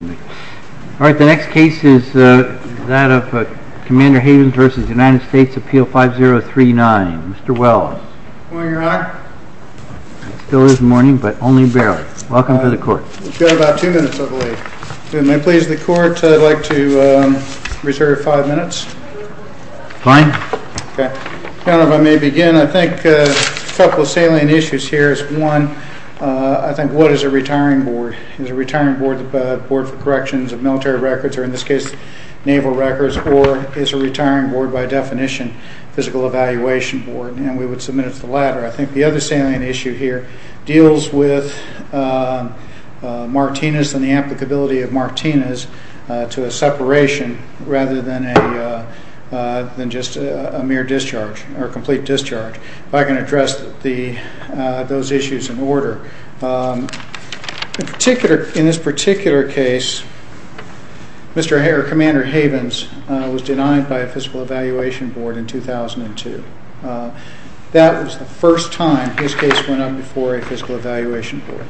The next case is Commander Havens v. United States, Appeal 5039. Mr. Wells. Good morning, Your Honor. It still is morning, but only barely. Welcome to the Court. You've got about two minutes, I believe. If it may please the Court, I'd like to reserve five minutes. Fine. I don't know if I may begin. I think a couple of salient issues here. One, I think, what is a retiring board? A board for corrections of military records, or in this case, naval records. Or is a retiring board, by definition, a physical evaluation board? And we would submit it to the latter. I think the other salient issue here deals with Martinez and the applicability of Martinez to a separation rather than just a mere discharge or a complete discharge. If I can address those issues in order. In this particular case, Commander Havens was denied by a physical evaluation board in 2002. That was the first time his case went up before a physical evaluation board.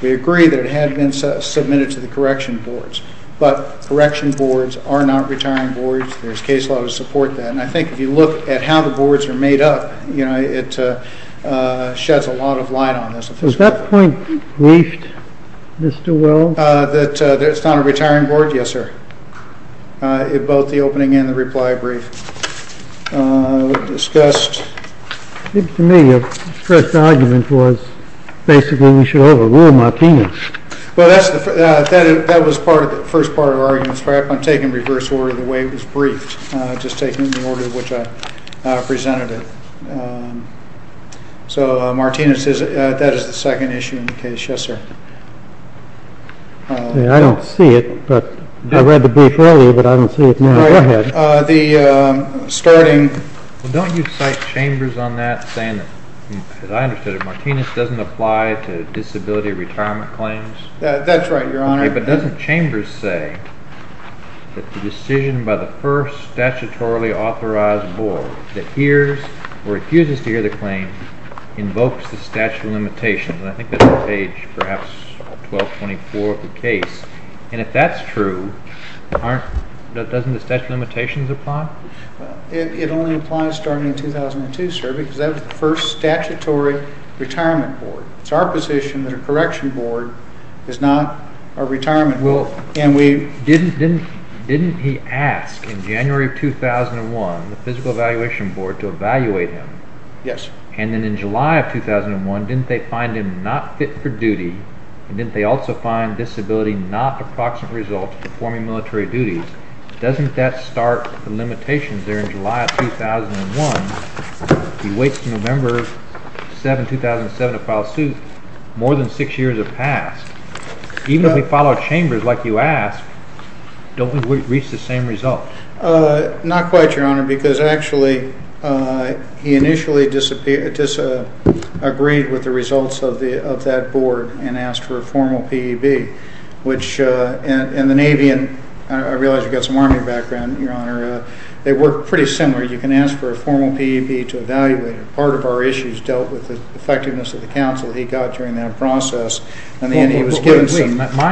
We agree that it had been submitted to the correction boards. But correction boards are not retiring boards. There's case law to support that. And I think if you look at how the boards are made up, it sheds a lot of light on this. Was that point briefed, Mr. Wells? That it's not a retiring board? Yes, sir. Both the opening and the reply brief. It was discussed. To me, the first argument was basically we should overrule Martinez. Well, that was the first part of the argument. I'm taking reverse order of the way it was briefed. I'm just taking the order in which I presented it. So, Martinez, that is the second issue in the case. Yes, sir. I don't see it, but I read the brief earlier, but I don't see it now. Go ahead. The starting. Don't you cite Chambers on that saying that, as I understood it, Martinez doesn't apply to disability retirement claims? That's right, Your Honor. But doesn't Chambers say that the decision by the first statutorily authorized board that hears or refuses to hear the claim invokes the statute of limitations? And I think that's on page perhaps 1224 of the case. And if that's true, doesn't the statute of limitations apply? It only applies starting in 2002, sir, because that was the first statutory retirement board. It's our position that a correction board is not a retirement board. Didn't he ask, in January of 2001, the Physical Evaluation Board to evaluate him? Yes. And then in July of 2001, didn't they find him not fit for duty, and didn't they also find disability not a proximate result to performing military duties? Doesn't that start the limitations there in July of 2001? He waits until November 7, 2007, to file a suit. More than six years have passed. Even if we follow Chambers like you asked, don't we reach the same results? Not quite, Your Honor, because actually he initially disagreed with the results of that board and asked for a formal PEB, which in the Navy, and I realize you've got some Army background, Your Honor, they work pretty similar. You can ask for a formal PEB to evaluate him. Part of our issues dealt with the effectiveness of the counsel he got during that process. My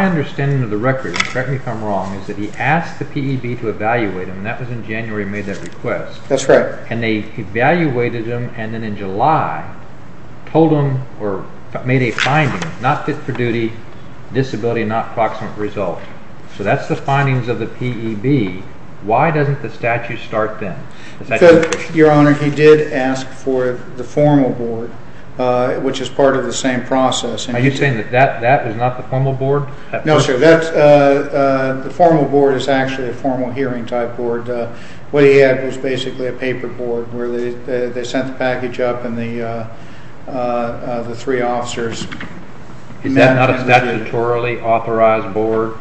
understanding of the record, correct me if I'm wrong, is that he asked the PEB to evaluate him, and that was in January he made that request. That's right. And they evaluated him, and then in July told him, or made a finding, not fit for duty, disability, not proximate result. So that's the findings of the PEB. Why doesn't the statute start then? Because, Your Honor, he did ask for the formal board, which is part of the same process. Are you saying that that is not the formal board? No, sir. The formal board is actually a formal hearing type board. What he had was basically a paper board where they sent the package up and the three officers met. Is that not a statutorily authorized board?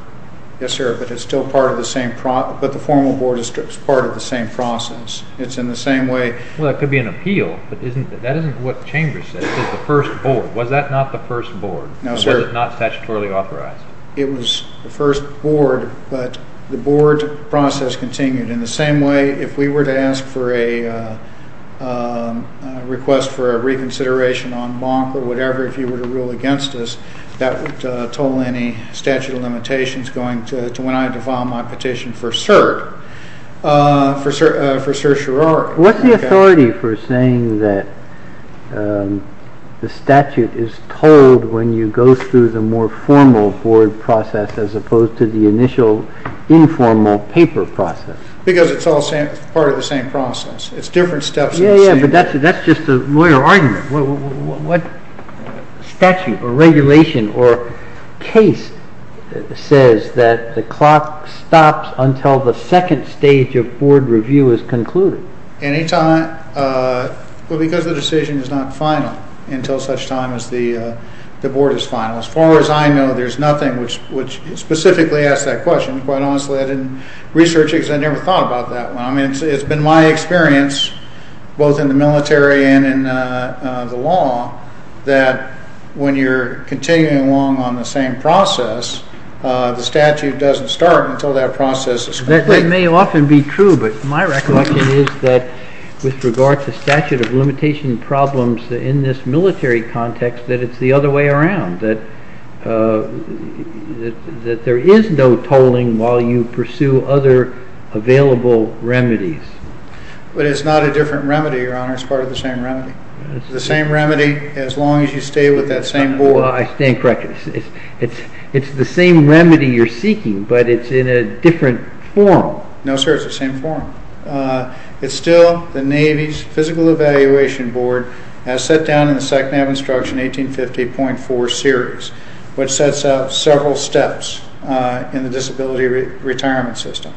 Yes, sir, but it's still part of the same process. But the formal board is part of the same process. It's in the same way. Well, it could be an appeal, but that isn't what Chambers said. It's the first board. Was that not the first board? No, sir. Was it not statutorily authorized? It was the first board, but the board process continued. In the same way, if we were to ask for a request for a reconsideration on Bonk or whatever, if you were to rule against us, that would toll any statute of limitations going to when I defile my petition for cert, for certiorari. What's the authority for saying that the statute is told when you go through the more formal board process as opposed to the initial informal paper process? Because it's all part of the same process. It's different steps in the same way. That's just a lawyer argument. What statute or regulation or case says that the clock stops until the second stage of board review is concluded? Well, because the decision is not final until such time as the board is final. As far as I know, there's nothing which specifically asks that question. Quite honestly, I didn't research it because I never thought about that one. It's been my experience, both in the military and in the law, that when you're continuing along on the same process, the statute doesn't start until that process is complete. That may often be true, but my recollection is that with regard to statute of limitation problems in this military context, that it's the other way around, that there is no tolling while you pursue other available remedies. But it's not a different remedy, Your Honor. It's part of the same remedy. It's the same remedy as long as you stay with that same board. Well, I stand corrected. It's the same remedy you're seeking, but it's in a different form. No, sir, it's the same form. It's still the Navy's Physical Evaluation Board, as set down in the Psych-Nav Instruction 1850.4 series, which sets up several steps in the disability retirement system.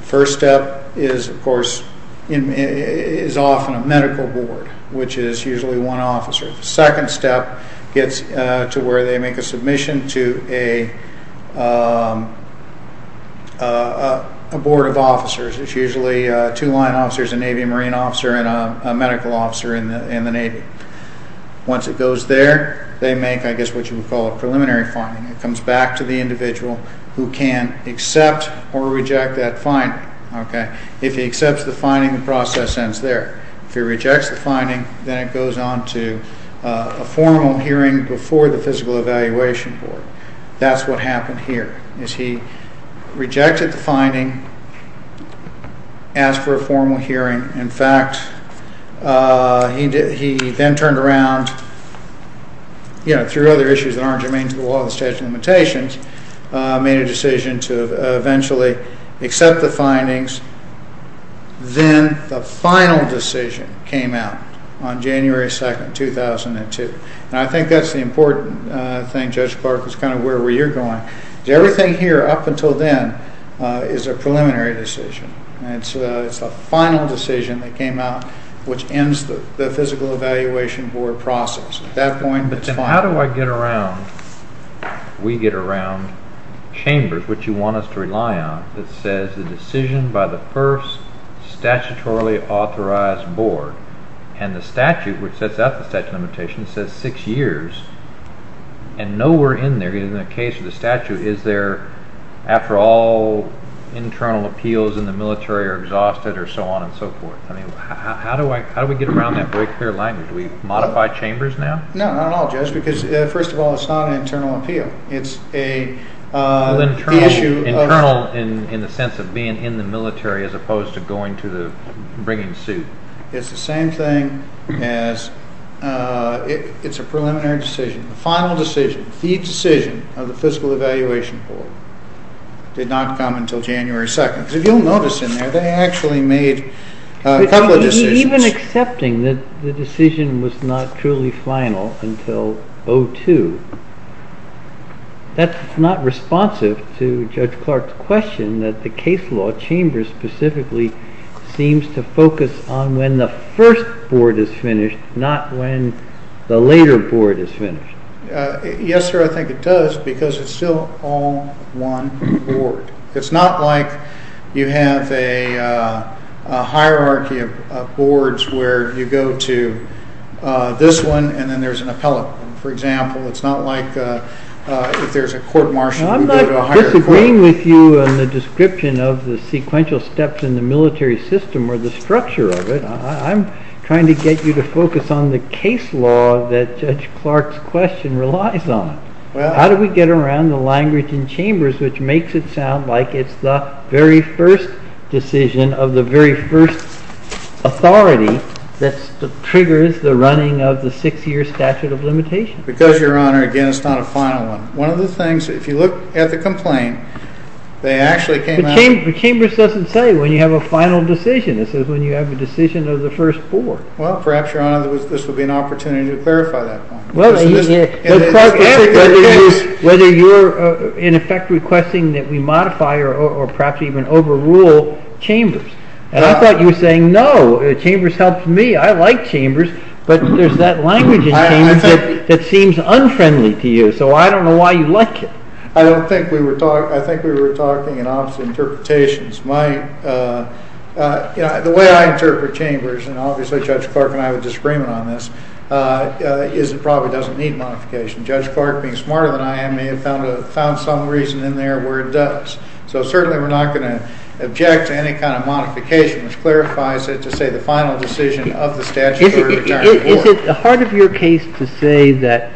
The first step is, of course, is often a medical board, which is usually one officer. The second step gets to where they make a submission to a board of officers. It's usually two line officers, a Navy and Marine officer, and a medical officer in the Navy. Once it goes there, they make, I guess, what you would call a preliminary finding. It comes back to the individual who can accept or reject that finding. If he accepts the finding, the process ends there. If he rejects the finding, then it goes on to a formal hearing before the Physical Evaluation Board. That's what happened here, is he rejected the finding, asked for a formal hearing. In fact, he then turned around, through other issues that aren't germane to the law and the statute of limitations, made a decision to eventually accept the findings. Then the final decision came out on January 2, 2002. I think that's the important thing, Judge Clark, is kind of where you're going. Everything here, up until then, is a preliminary decision. It's the final decision that came out, which ends the Physical Evaluation Board process. At that point, it's final. How do I get around, we get around, chambers, which you want us to rely on, that says the decision by the first statutorily authorized board, and the statute, which sets out the statute of limitations, says six years, and nowhere in there, in the case of the statute, is there, after all, internal appeals in the military are exhausted, or so on and so forth. How do we get around that very clear language? Do we modify chambers now? No, not at all, Judge, because, first of all, it's not an internal appeal. It's the issue of... Well, internal in the sense of being in the military, as opposed to going to the, bringing suit. It's the same thing as, it's a preliminary decision. The final decision, the decision of the Physical Evaluation Board, did not come until January 2. If you'll notice in there, they actually made a couple of decisions. Even accepting that the decision was not truly final until 02, that's not responsive to Judge Clark's question that the case law, chambers specifically, seems to focus on when the first board is finished, not when the later board is finished. Yes, sir, I think it does, because it's still all one board. It's not like you have a hierarchy of boards where you go to this one, and then there's an appellate. For example, it's not like if there's a court-martial, you go to a higher court. I'm not disagreeing with you on the description of the sequential steps in the military system or the structure of it. I'm trying to get you to focus on the case law that Judge Clark's question relies on. How do we get around the language in chambers which makes it sound like it's the very first decision of the very first authority that triggers the running of the six-year statute of limitations? Because, Your Honor, again, it's not a final one. One of the things, if you look at the complaint, they actually came out... But chambers doesn't say when you have a final decision. It says when you have a decision of the first board. Well, perhaps, Your Honor, this would be an opportunity to clarify that point. Well, Judge Clark asked whether you're, in effect, requesting that we modify or perhaps even overrule chambers. And I thought you were saying, no, chambers helped me. I like chambers. But there's that language in chambers that seems unfriendly to you. So I don't know why you like it. I don't think we were talking... I think we were talking in opposite interpretations. The way I interpret chambers, and obviously Judge Clark and I have a disagreement on this, is it probably doesn't need modification. Judge Clark, being smarter than I am, may have found some reason in there where it does. So certainly we're not going to object to any kind of modification, which clarifies it to say the final decision of the statutory returning board. Is it hard of your case to say that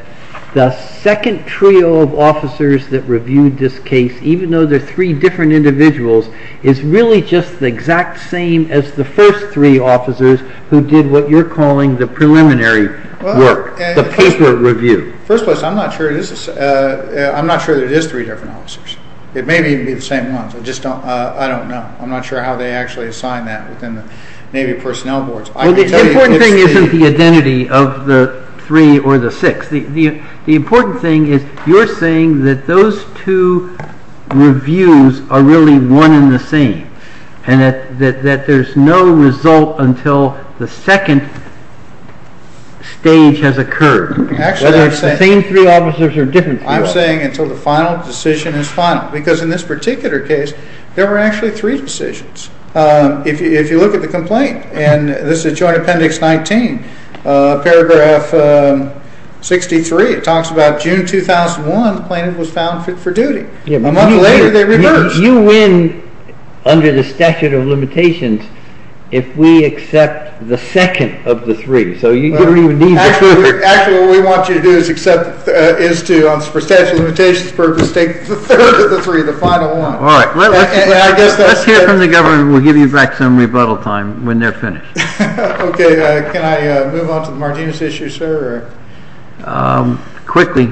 the second trio of officers that reviewed this case, even though they're three different individuals, is really just the exact same as the first three officers who did what you're calling the preliminary work, the paper review? First of all, I'm not sure there is three different officers. It may be the same ones. I just don't know. I'm not sure how they actually assigned that within the Navy personnel boards. The important thing isn't the identity of the three or the six. The important thing is you're saying that those two reviews are really one and the same, and that there's no result until the second stage has occurred, whether it's the same three officers or different three officers. I'm saying until the final decision is final. Because in this particular case, there were actually three decisions. If you look at the complaint, and this is Joint Appendix 19, paragraph 63, it talks about June 2001, the plaintiff was found fit for duty. A month later, they reversed. You win under the statute of limitations if we accept the second of the three. Actually, what we want you to do is, for statute of limitations purposes, take the third of the three, the final one. Let's hear from the government. We'll give you back some rebuttal time when they're finished. Okay. Can I move on to the Martinez issue, sir? Quickly.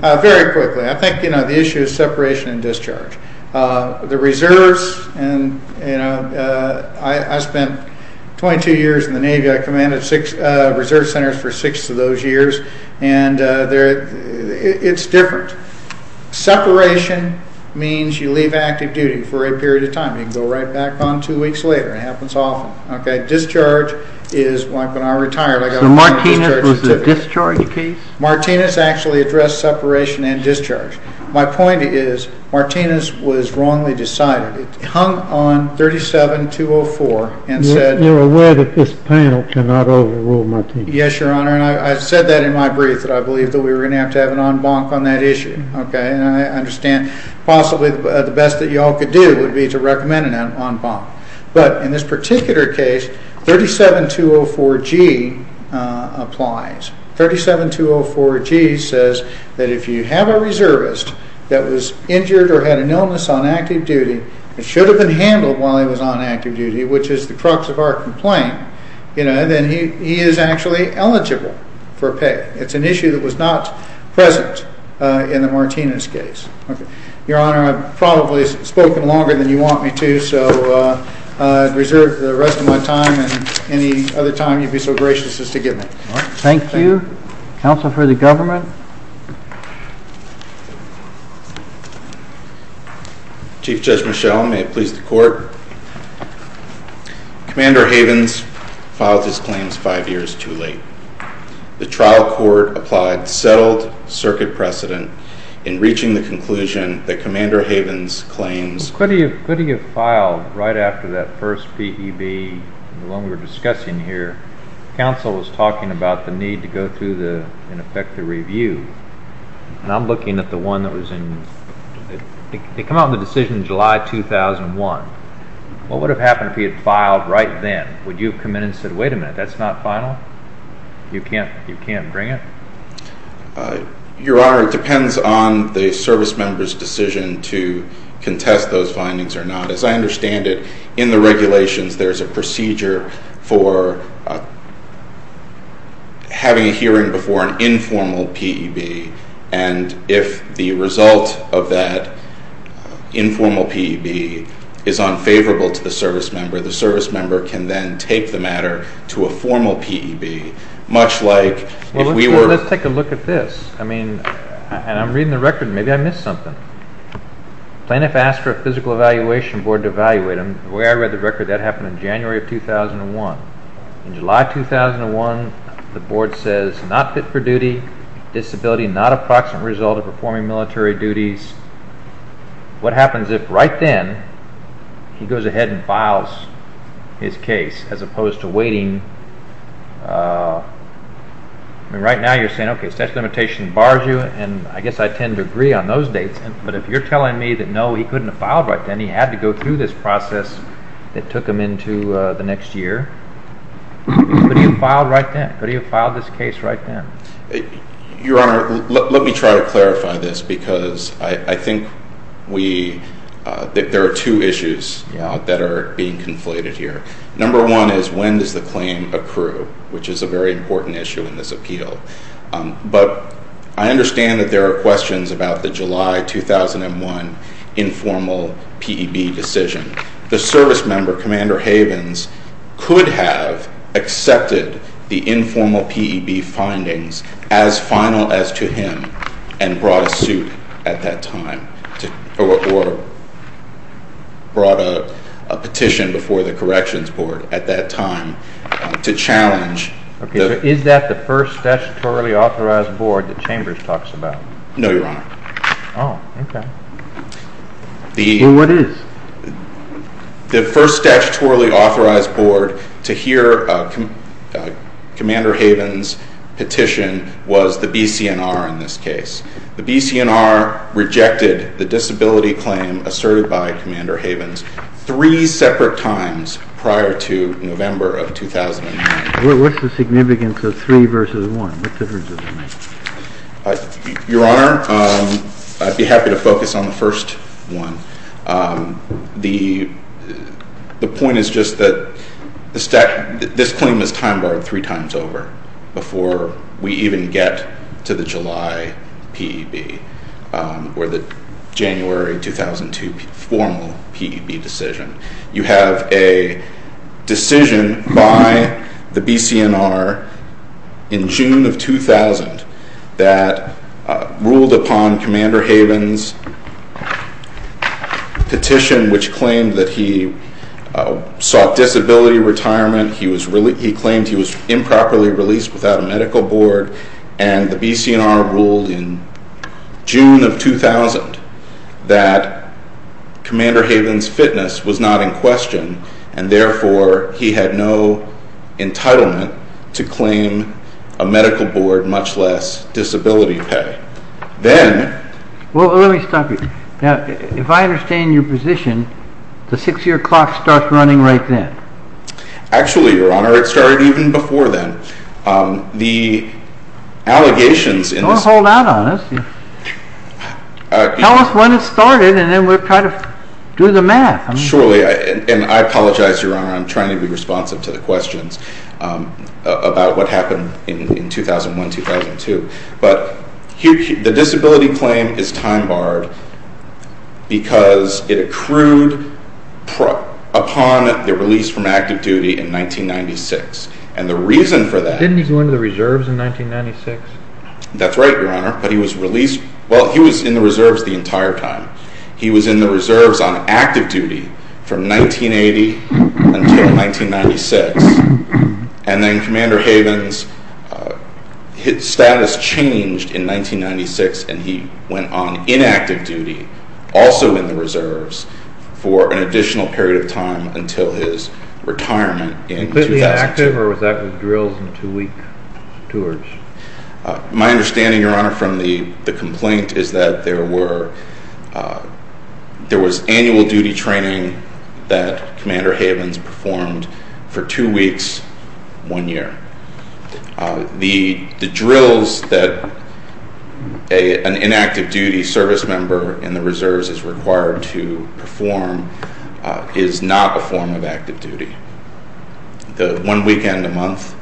Very quickly. I think the issue is separation and discharge. The reserves, I spent 22 years in the Navy. I commanded reserve centers for six of those years. It's different. Separation means you leave active duty for a period of time. You can go right back on two weeks later. It happens often. Okay. Discharge is when I retired, I got a discharge certificate. So Martinez was a discharge case? Martinez actually addressed separation and discharge. My point is, Martinez was wrongly decided. It hung on 37-204 and said— You're aware that this panel cannot overrule Martinez? Yes, Your Honor. I said that in my brief, that I believe that we were going to have to have an en banc on that issue. And I understand possibly the best that you all could do would be to recommend an en banc. But in this particular case, 37-204G applies. 37-204G says that if you have a reservist that was injured or had an illness on active duty and should have been handled while he was on active duty, which is the crux of our complaint, then he is actually eligible for pay. It's an issue that was not present in the Martinez case. Your Honor, I've probably spoken longer than you want me to, so I reserve the rest of my time and any other time you'd be so gracious as to give me. Thank you. Counsel for the Government? Chief Judge Michel, may it please the Court. Commander Havens filed his claims five years too late. The trial court applied settled circuit precedent in reaching the conclusion that Commander Havens' claims— Could he have filed right after that first PEB, the one we were discussing here? Counsel was talking about the need to go through, in effect, the review. And I'm looking at the one that was in— They come out with a decision in July 2001. What would have happened if he had filed right then? Would you have come in and said, wait a minute, that's not final? You can't bring it? Your Honor, it depends on the service member's decision to contest those findings or not. As I understand it, in the regulations, there's a procedure for having a hearing before an informal PEB, and if the result of that informal PEB is unfavorable to the service member, the service member can then take the matter to a formal PEB, much like if we were— Well, let's take a look at this. I mean, and I'm reading the record. Maybe I missed something. Plaintiff asked for a Physical Evaluation Board to evaluate. The way I read the record, that happened in January of 2001. In July 2001, the board says, not fit for duty, disability, not approximate result of performing military duties. What happens if, right then, he goes ahead and files his case, as opposed to waiting? I mean, right now you're saying, okay, such limitation bars you, and I guess I tend to agree on those dates. But if you're telling me that, no, he couldn't have filed right then, he had to go through this process that took him into the next year. He could have filed right then. He could have filed this case right then. Your Honor, let me try to clarify this, because I think we—there are two issues that are being conflated here. Number one is when does the claim accrue, which is a very important issue in this appeal. But I understand that there are questions about the July 2001 informal PEB decision. The service member, Commander Havens, could have accepted the informal PEB findings as final as to him and brought a suit at that time, or brought a petition before the Corrections Board at that time to challenge— Okay, so is that the first statutorily authorized board that Chambers talks about? No, Your Honor. Oh, okay. Well, what is? The first statutorily authorized board to hear Commander Havens' petition was the BCNR in this case. The BCNR rejected the disability claim asserted by Commander Havens three separate times prior to November of 2009. What's the significance of three versus one? What's the difference in that? Your Honor, I'd be happy to focus on the first one. The point is just that this claim is time-barred three times over before we even get to the July PEB or the January 2002 formal PEB decision. You have a decision by the BCNR in June of 2000 that ruled upon Commander Havens' petition, which claimed that he sought disability retirement. He claimed he was improperly released without a medical board. And the BCNR ruled in June of 2000 that Commander Havens' fitness was not in question, and therefore he had no entitlement to claim a medical board, much less disability pay. Then— Well, let me stop you. Now, if I understand your position, the six-year clock starts running right then. Actually, Your Honor, it started even before then. The allegations— Don't hold out on us. Tell us when it started, and then we'll try to do the math. Surely. And I apologize, Your Honor, I'm trying to be responsive to the questions about what happened in 2001-2002. But the disability claim is time-barred because it accrued upon the release from active duty in 1996. And the reason for that— Didn't he go into the Reserves in 1996? That's right, Your Honor, but he was released—well, he was in the Reserves the entire time. He was in the Reserves on active duty from 1980 until 1996. And then Commander Havens' status changed in 1996, and he went on inactive duty, also in the Reserves, for an additional period of time until his retirement in 2000. Was that active or was that with drills and two-week tours? My understanding, Your Honor, from the complaint is that there was annual duty training that Commander Havens performed for two weeks, one year. The drills that an inactive-duty service member in the Reserves is required to perform is not a form of active duty. The one weekend a month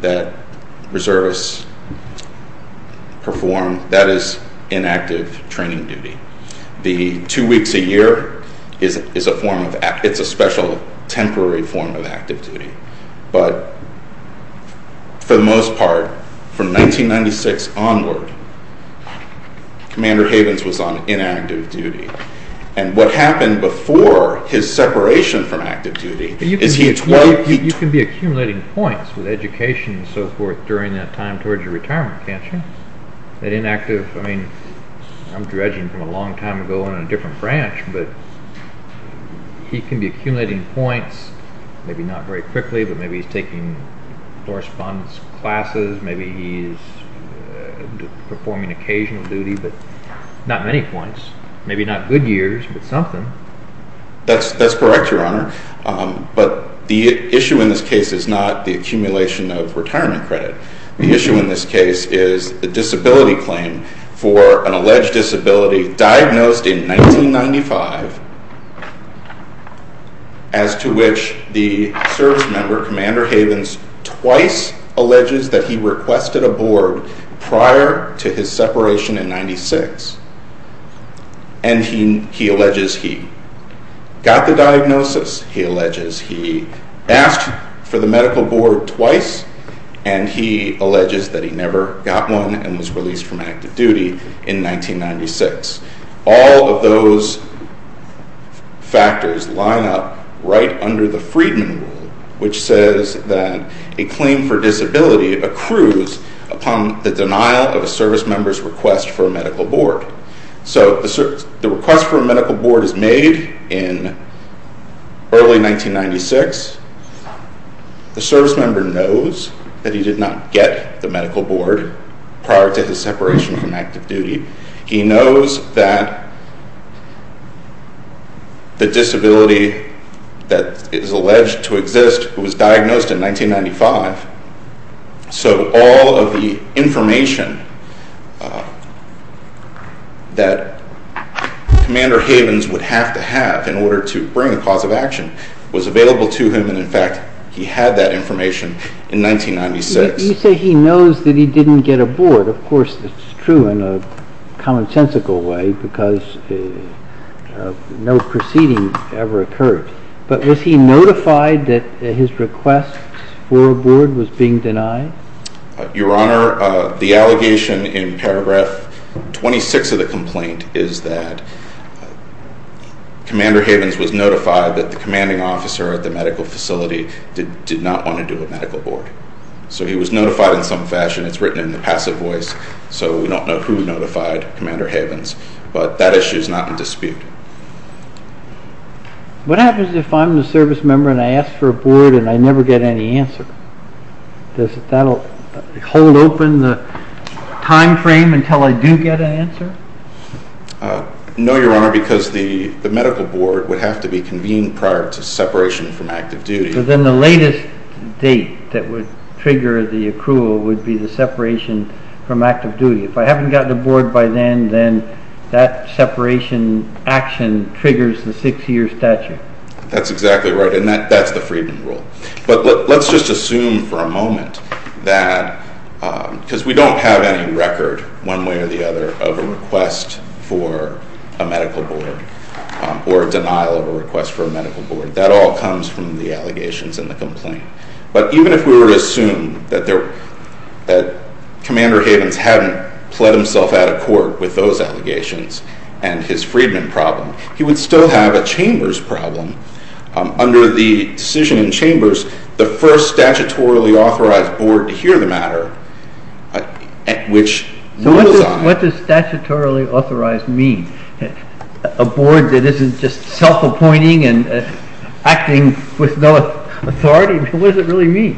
that Reservists perform, that is inactive training duty. The two weeks a year is a form of—it's a special temporary form of active duty. But for the most part, from 1996 onward, Commander Havens was on inactive duty. And what happened before his separation from active duty is he— You can be accumulating points with education and so forth during that time towards your retirement, can't you? That inactive—I mean, I'm dredging from a long time ago in a different branch, but he can be accumulating points, maybe not very quickly, but maybe he's taking correspondence classes. Maybe he's performing occasional duty, but not many points. Maybe not good years, but something. That's correct, Your Honor. But the issue in this case is not the accumulation of retirement credit. The issue in this case is the disability claim for an alleged disability diagnosed in 1995, as to which the service member, Commander Havens, twice alleges that he requested a board prior to his separation in 1996. And he alleges he got the diagnosis, he alleges. He asked for the medical board twice, and he alleges that he never got one and was released from active duty in 1996. All of those factors line up right under the Freedman Rule, which says that a claim for disability accrues upon the denial of a service member's request for a medical board. So the request for a medical board is made in early 1996. The service member knows that he did not get the medical board prior to his separation from active duty. He knows that the disability that is alleged to exist was diagnosed in 1995. So all of the information that Commander Havens would have to have in order to bring a cause of action was available to him, and, in fact, he had that information in 1996. You say he knows that he didn't get a board. Of course, that's true in a commonsensical way because no proceedings ever occurred. But was he notified that his request for a board was being denied? Your Honor, the allegation in paragraph 26 of the complaint is that Commander Havens was notified that the commanding officer at the medical facility did not want to do a medical board. So he was notified in some fashion. It's written in the passive voice, so we don't know who notified Commander Havens, but that issue is not in dispute. What happens if I'm the service member and I ask for a board and I never get any answer? Does that hold open the time frame until I do get an answer? No, Your Honor, because the medical board would have to be convened prior to separation from active duty. So then the latest date that would trigger the accrual would be the separation from active duty. If I haven't gotten a board by then, then that separation action triggers the six-year statute. That's exactly right, and that's the Friedman rule. But let's just assume for a moment that, because we don't have any record one way or the other of a request for a medical board or a denial of a request for a medical board. That all comes from the allegations in the complaint. But even if we were to assume that Commander Havens hadn't pled himself out of court with those allegations and his Friedman problem, he would still have a Chambers problem. Under the decision in Chambers, the first statutorily authorized board to hear the matter, which rules on it. A board that isn't just self-appointing and acting with no authority? What does it really mean?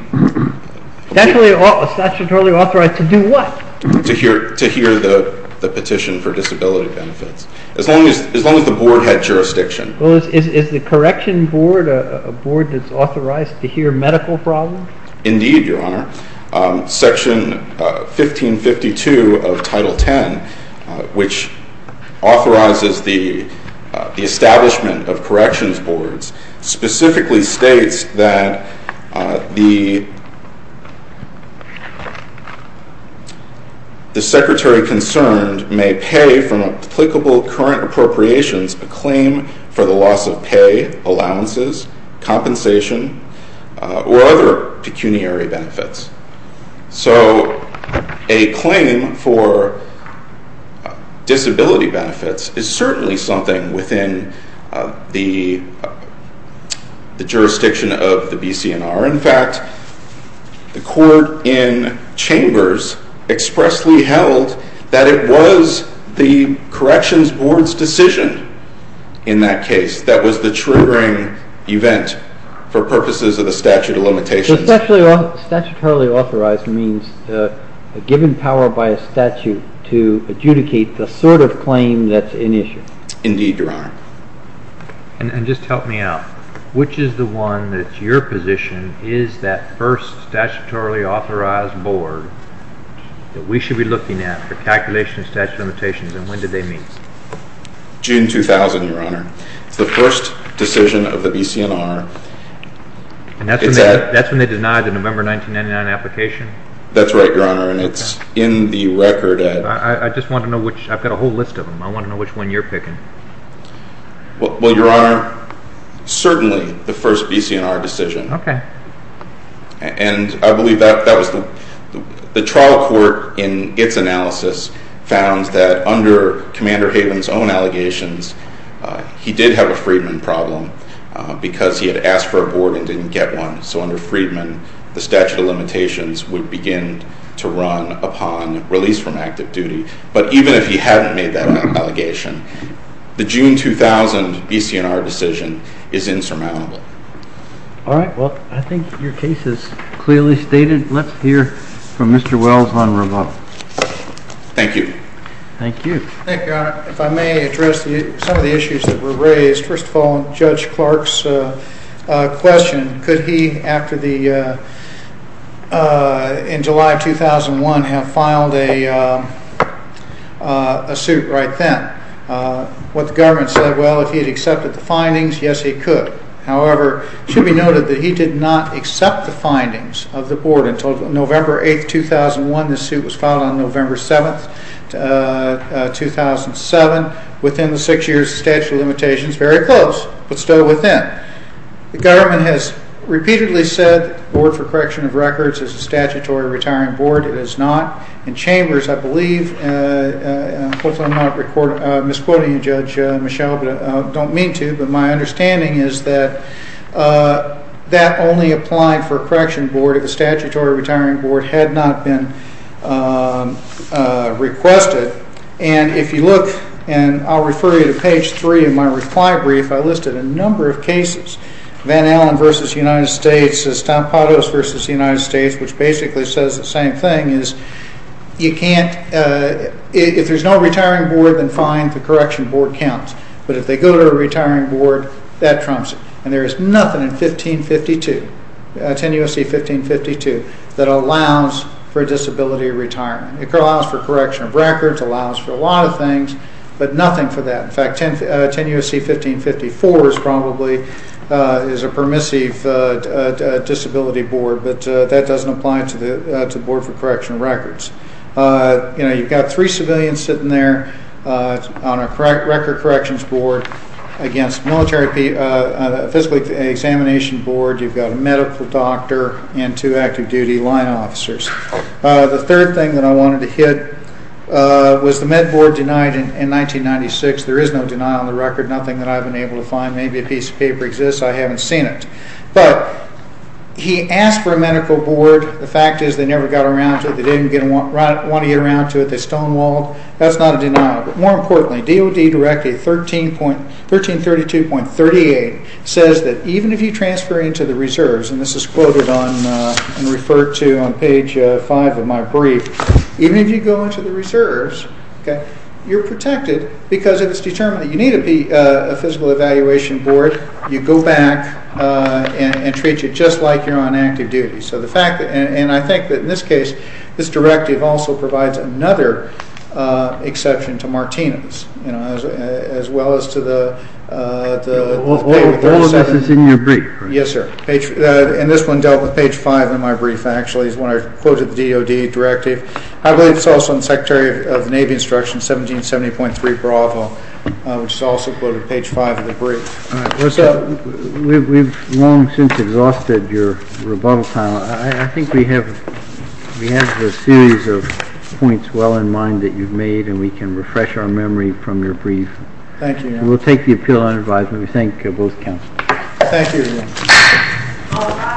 Statutorily authorized to do what? To hear the petition for disability benefits, as long as the board had jurisdiction. Is the correction board a board that's authorized to hear medical problems? Indeed, Your Honor. Section 1552 of Title X, which authorizes the establishment of corrections boards, specifically states that the secretary concerned may pay from applicable current appropriations a claim for the loss of pay, allowances, compensation, or other pecuniary benefits. So a claim for disability benefits is certainly something within the jurisdiction of the BCNR. In fact, the court in Chambers expressly held that it was the corrections board's decision in that case that was the triggering event for purposes of the statute of limitations. So statutorily authorized means a given power by a statute to adjudicate the sort of claim that's in issue? Indeed, Your Honor. And just help me out. Which is the one that's your position is that first statutorily authorized board that we should be looking at for calculation of statute of limitations, and when did they meet? June 2000, Your Honor. It's the first decision of the BCNR. And that's when they denied the November 1999 application? That's right, Your Honor, and it's in the record. I've got a whole list of them. I want to know which one you're picking. Well, Your Honor, certainly the first BCNR decision. Okay. And I believe that was the trial court in its analysis found that under Commander Haven's own allegations, he did have a Freedman problem because he had asked for a board and didn't get one. So under Freedman, the statute of limitations would begin to run upon release from active duty. But even if he hadn't made that allegation, the June 2000 BCNR decision is insurmountable. All right. Well, I think your case is clearly stated. Let's hear from Mr. Wells on remodel. Thank you. Thank you. Thank you, Your Honor. If I may address some of the issues that were raised. First of all, Judge Clark's question, could he, in July 2001, have filed a suit right then? What the government said, well, if he had accepted the findings, yes, he could. However, it should be noted that he did not accept the findings of the board until November 8, 2001. The suit was filed on November 7, 2007. Within the six years, the statute of limitations is very close, but still within. The government has repeatedly said the Board for Correction of Records is a statutory retiring board. It is not. I believe, I'm misquoting Judge Michel, but I don't mean to. But my understanding is that that only applied for a correction board if a statutory retiring board had not been requested. And if you look, and I'll refer you to page 3 of my reply brief, I listed a number of cases. Van Allen v. United States, Estampados v. United States, which basically says the same thing, is if there's no retiring board, then fine, the correction board counts. But if they go to a retiring board, that trumps it. And there is nothing in 10 U.S.C. 1552 that allows for disability retirement. It allows for correction of records, allows for a lot of things, but nothing for that. In fact, 10 U.S.C. 1554 probably is a permissive disability board, but that doesn't apply to the Board for Correction of Records. You know, you've got three civilians sitting there on a record corrections board against a military physical examination board. You've got a medical doctor and two active duty line officers. The third thing that I wanted to hit was the Med Board denied in 1996. There is no denial on the record, nothing that I've been able to find. Maybe a piece of paper exists. I haven't seen it. But he asked for a medical board. The fact is they never got around to it. They didn't want to get around to it. They stonewalled. That's not a denial. But more importantly, DOD Direct 1332.38 says that even if you transfer into the reserves, and this is quoted and referred to on page 5 of my brief, even if you go into the reserves, you're protected because it's determined that you need a physical evaluation board. You go back and treat you just like you're on active duty. And I think that in this case, this directive also provides another exception to Martinez, as well as to the- What was in your brief? Yes, sir. And this one dealt with page 5 in my brief, actually, is when I quoted the DOD directive. I believe it's also in the Secretary of the Navy Instruction 1770.3 Bravo, which is also quoted page 5 of the brief. We've long since exhausted your rebuttal time. I think we have a series of points well in mind that you've made, and we can refresh our memory from your brief. Thank you, Your Honor. We'll take the appeal on advisement. We thank both counsels. Thank you, Your Honor.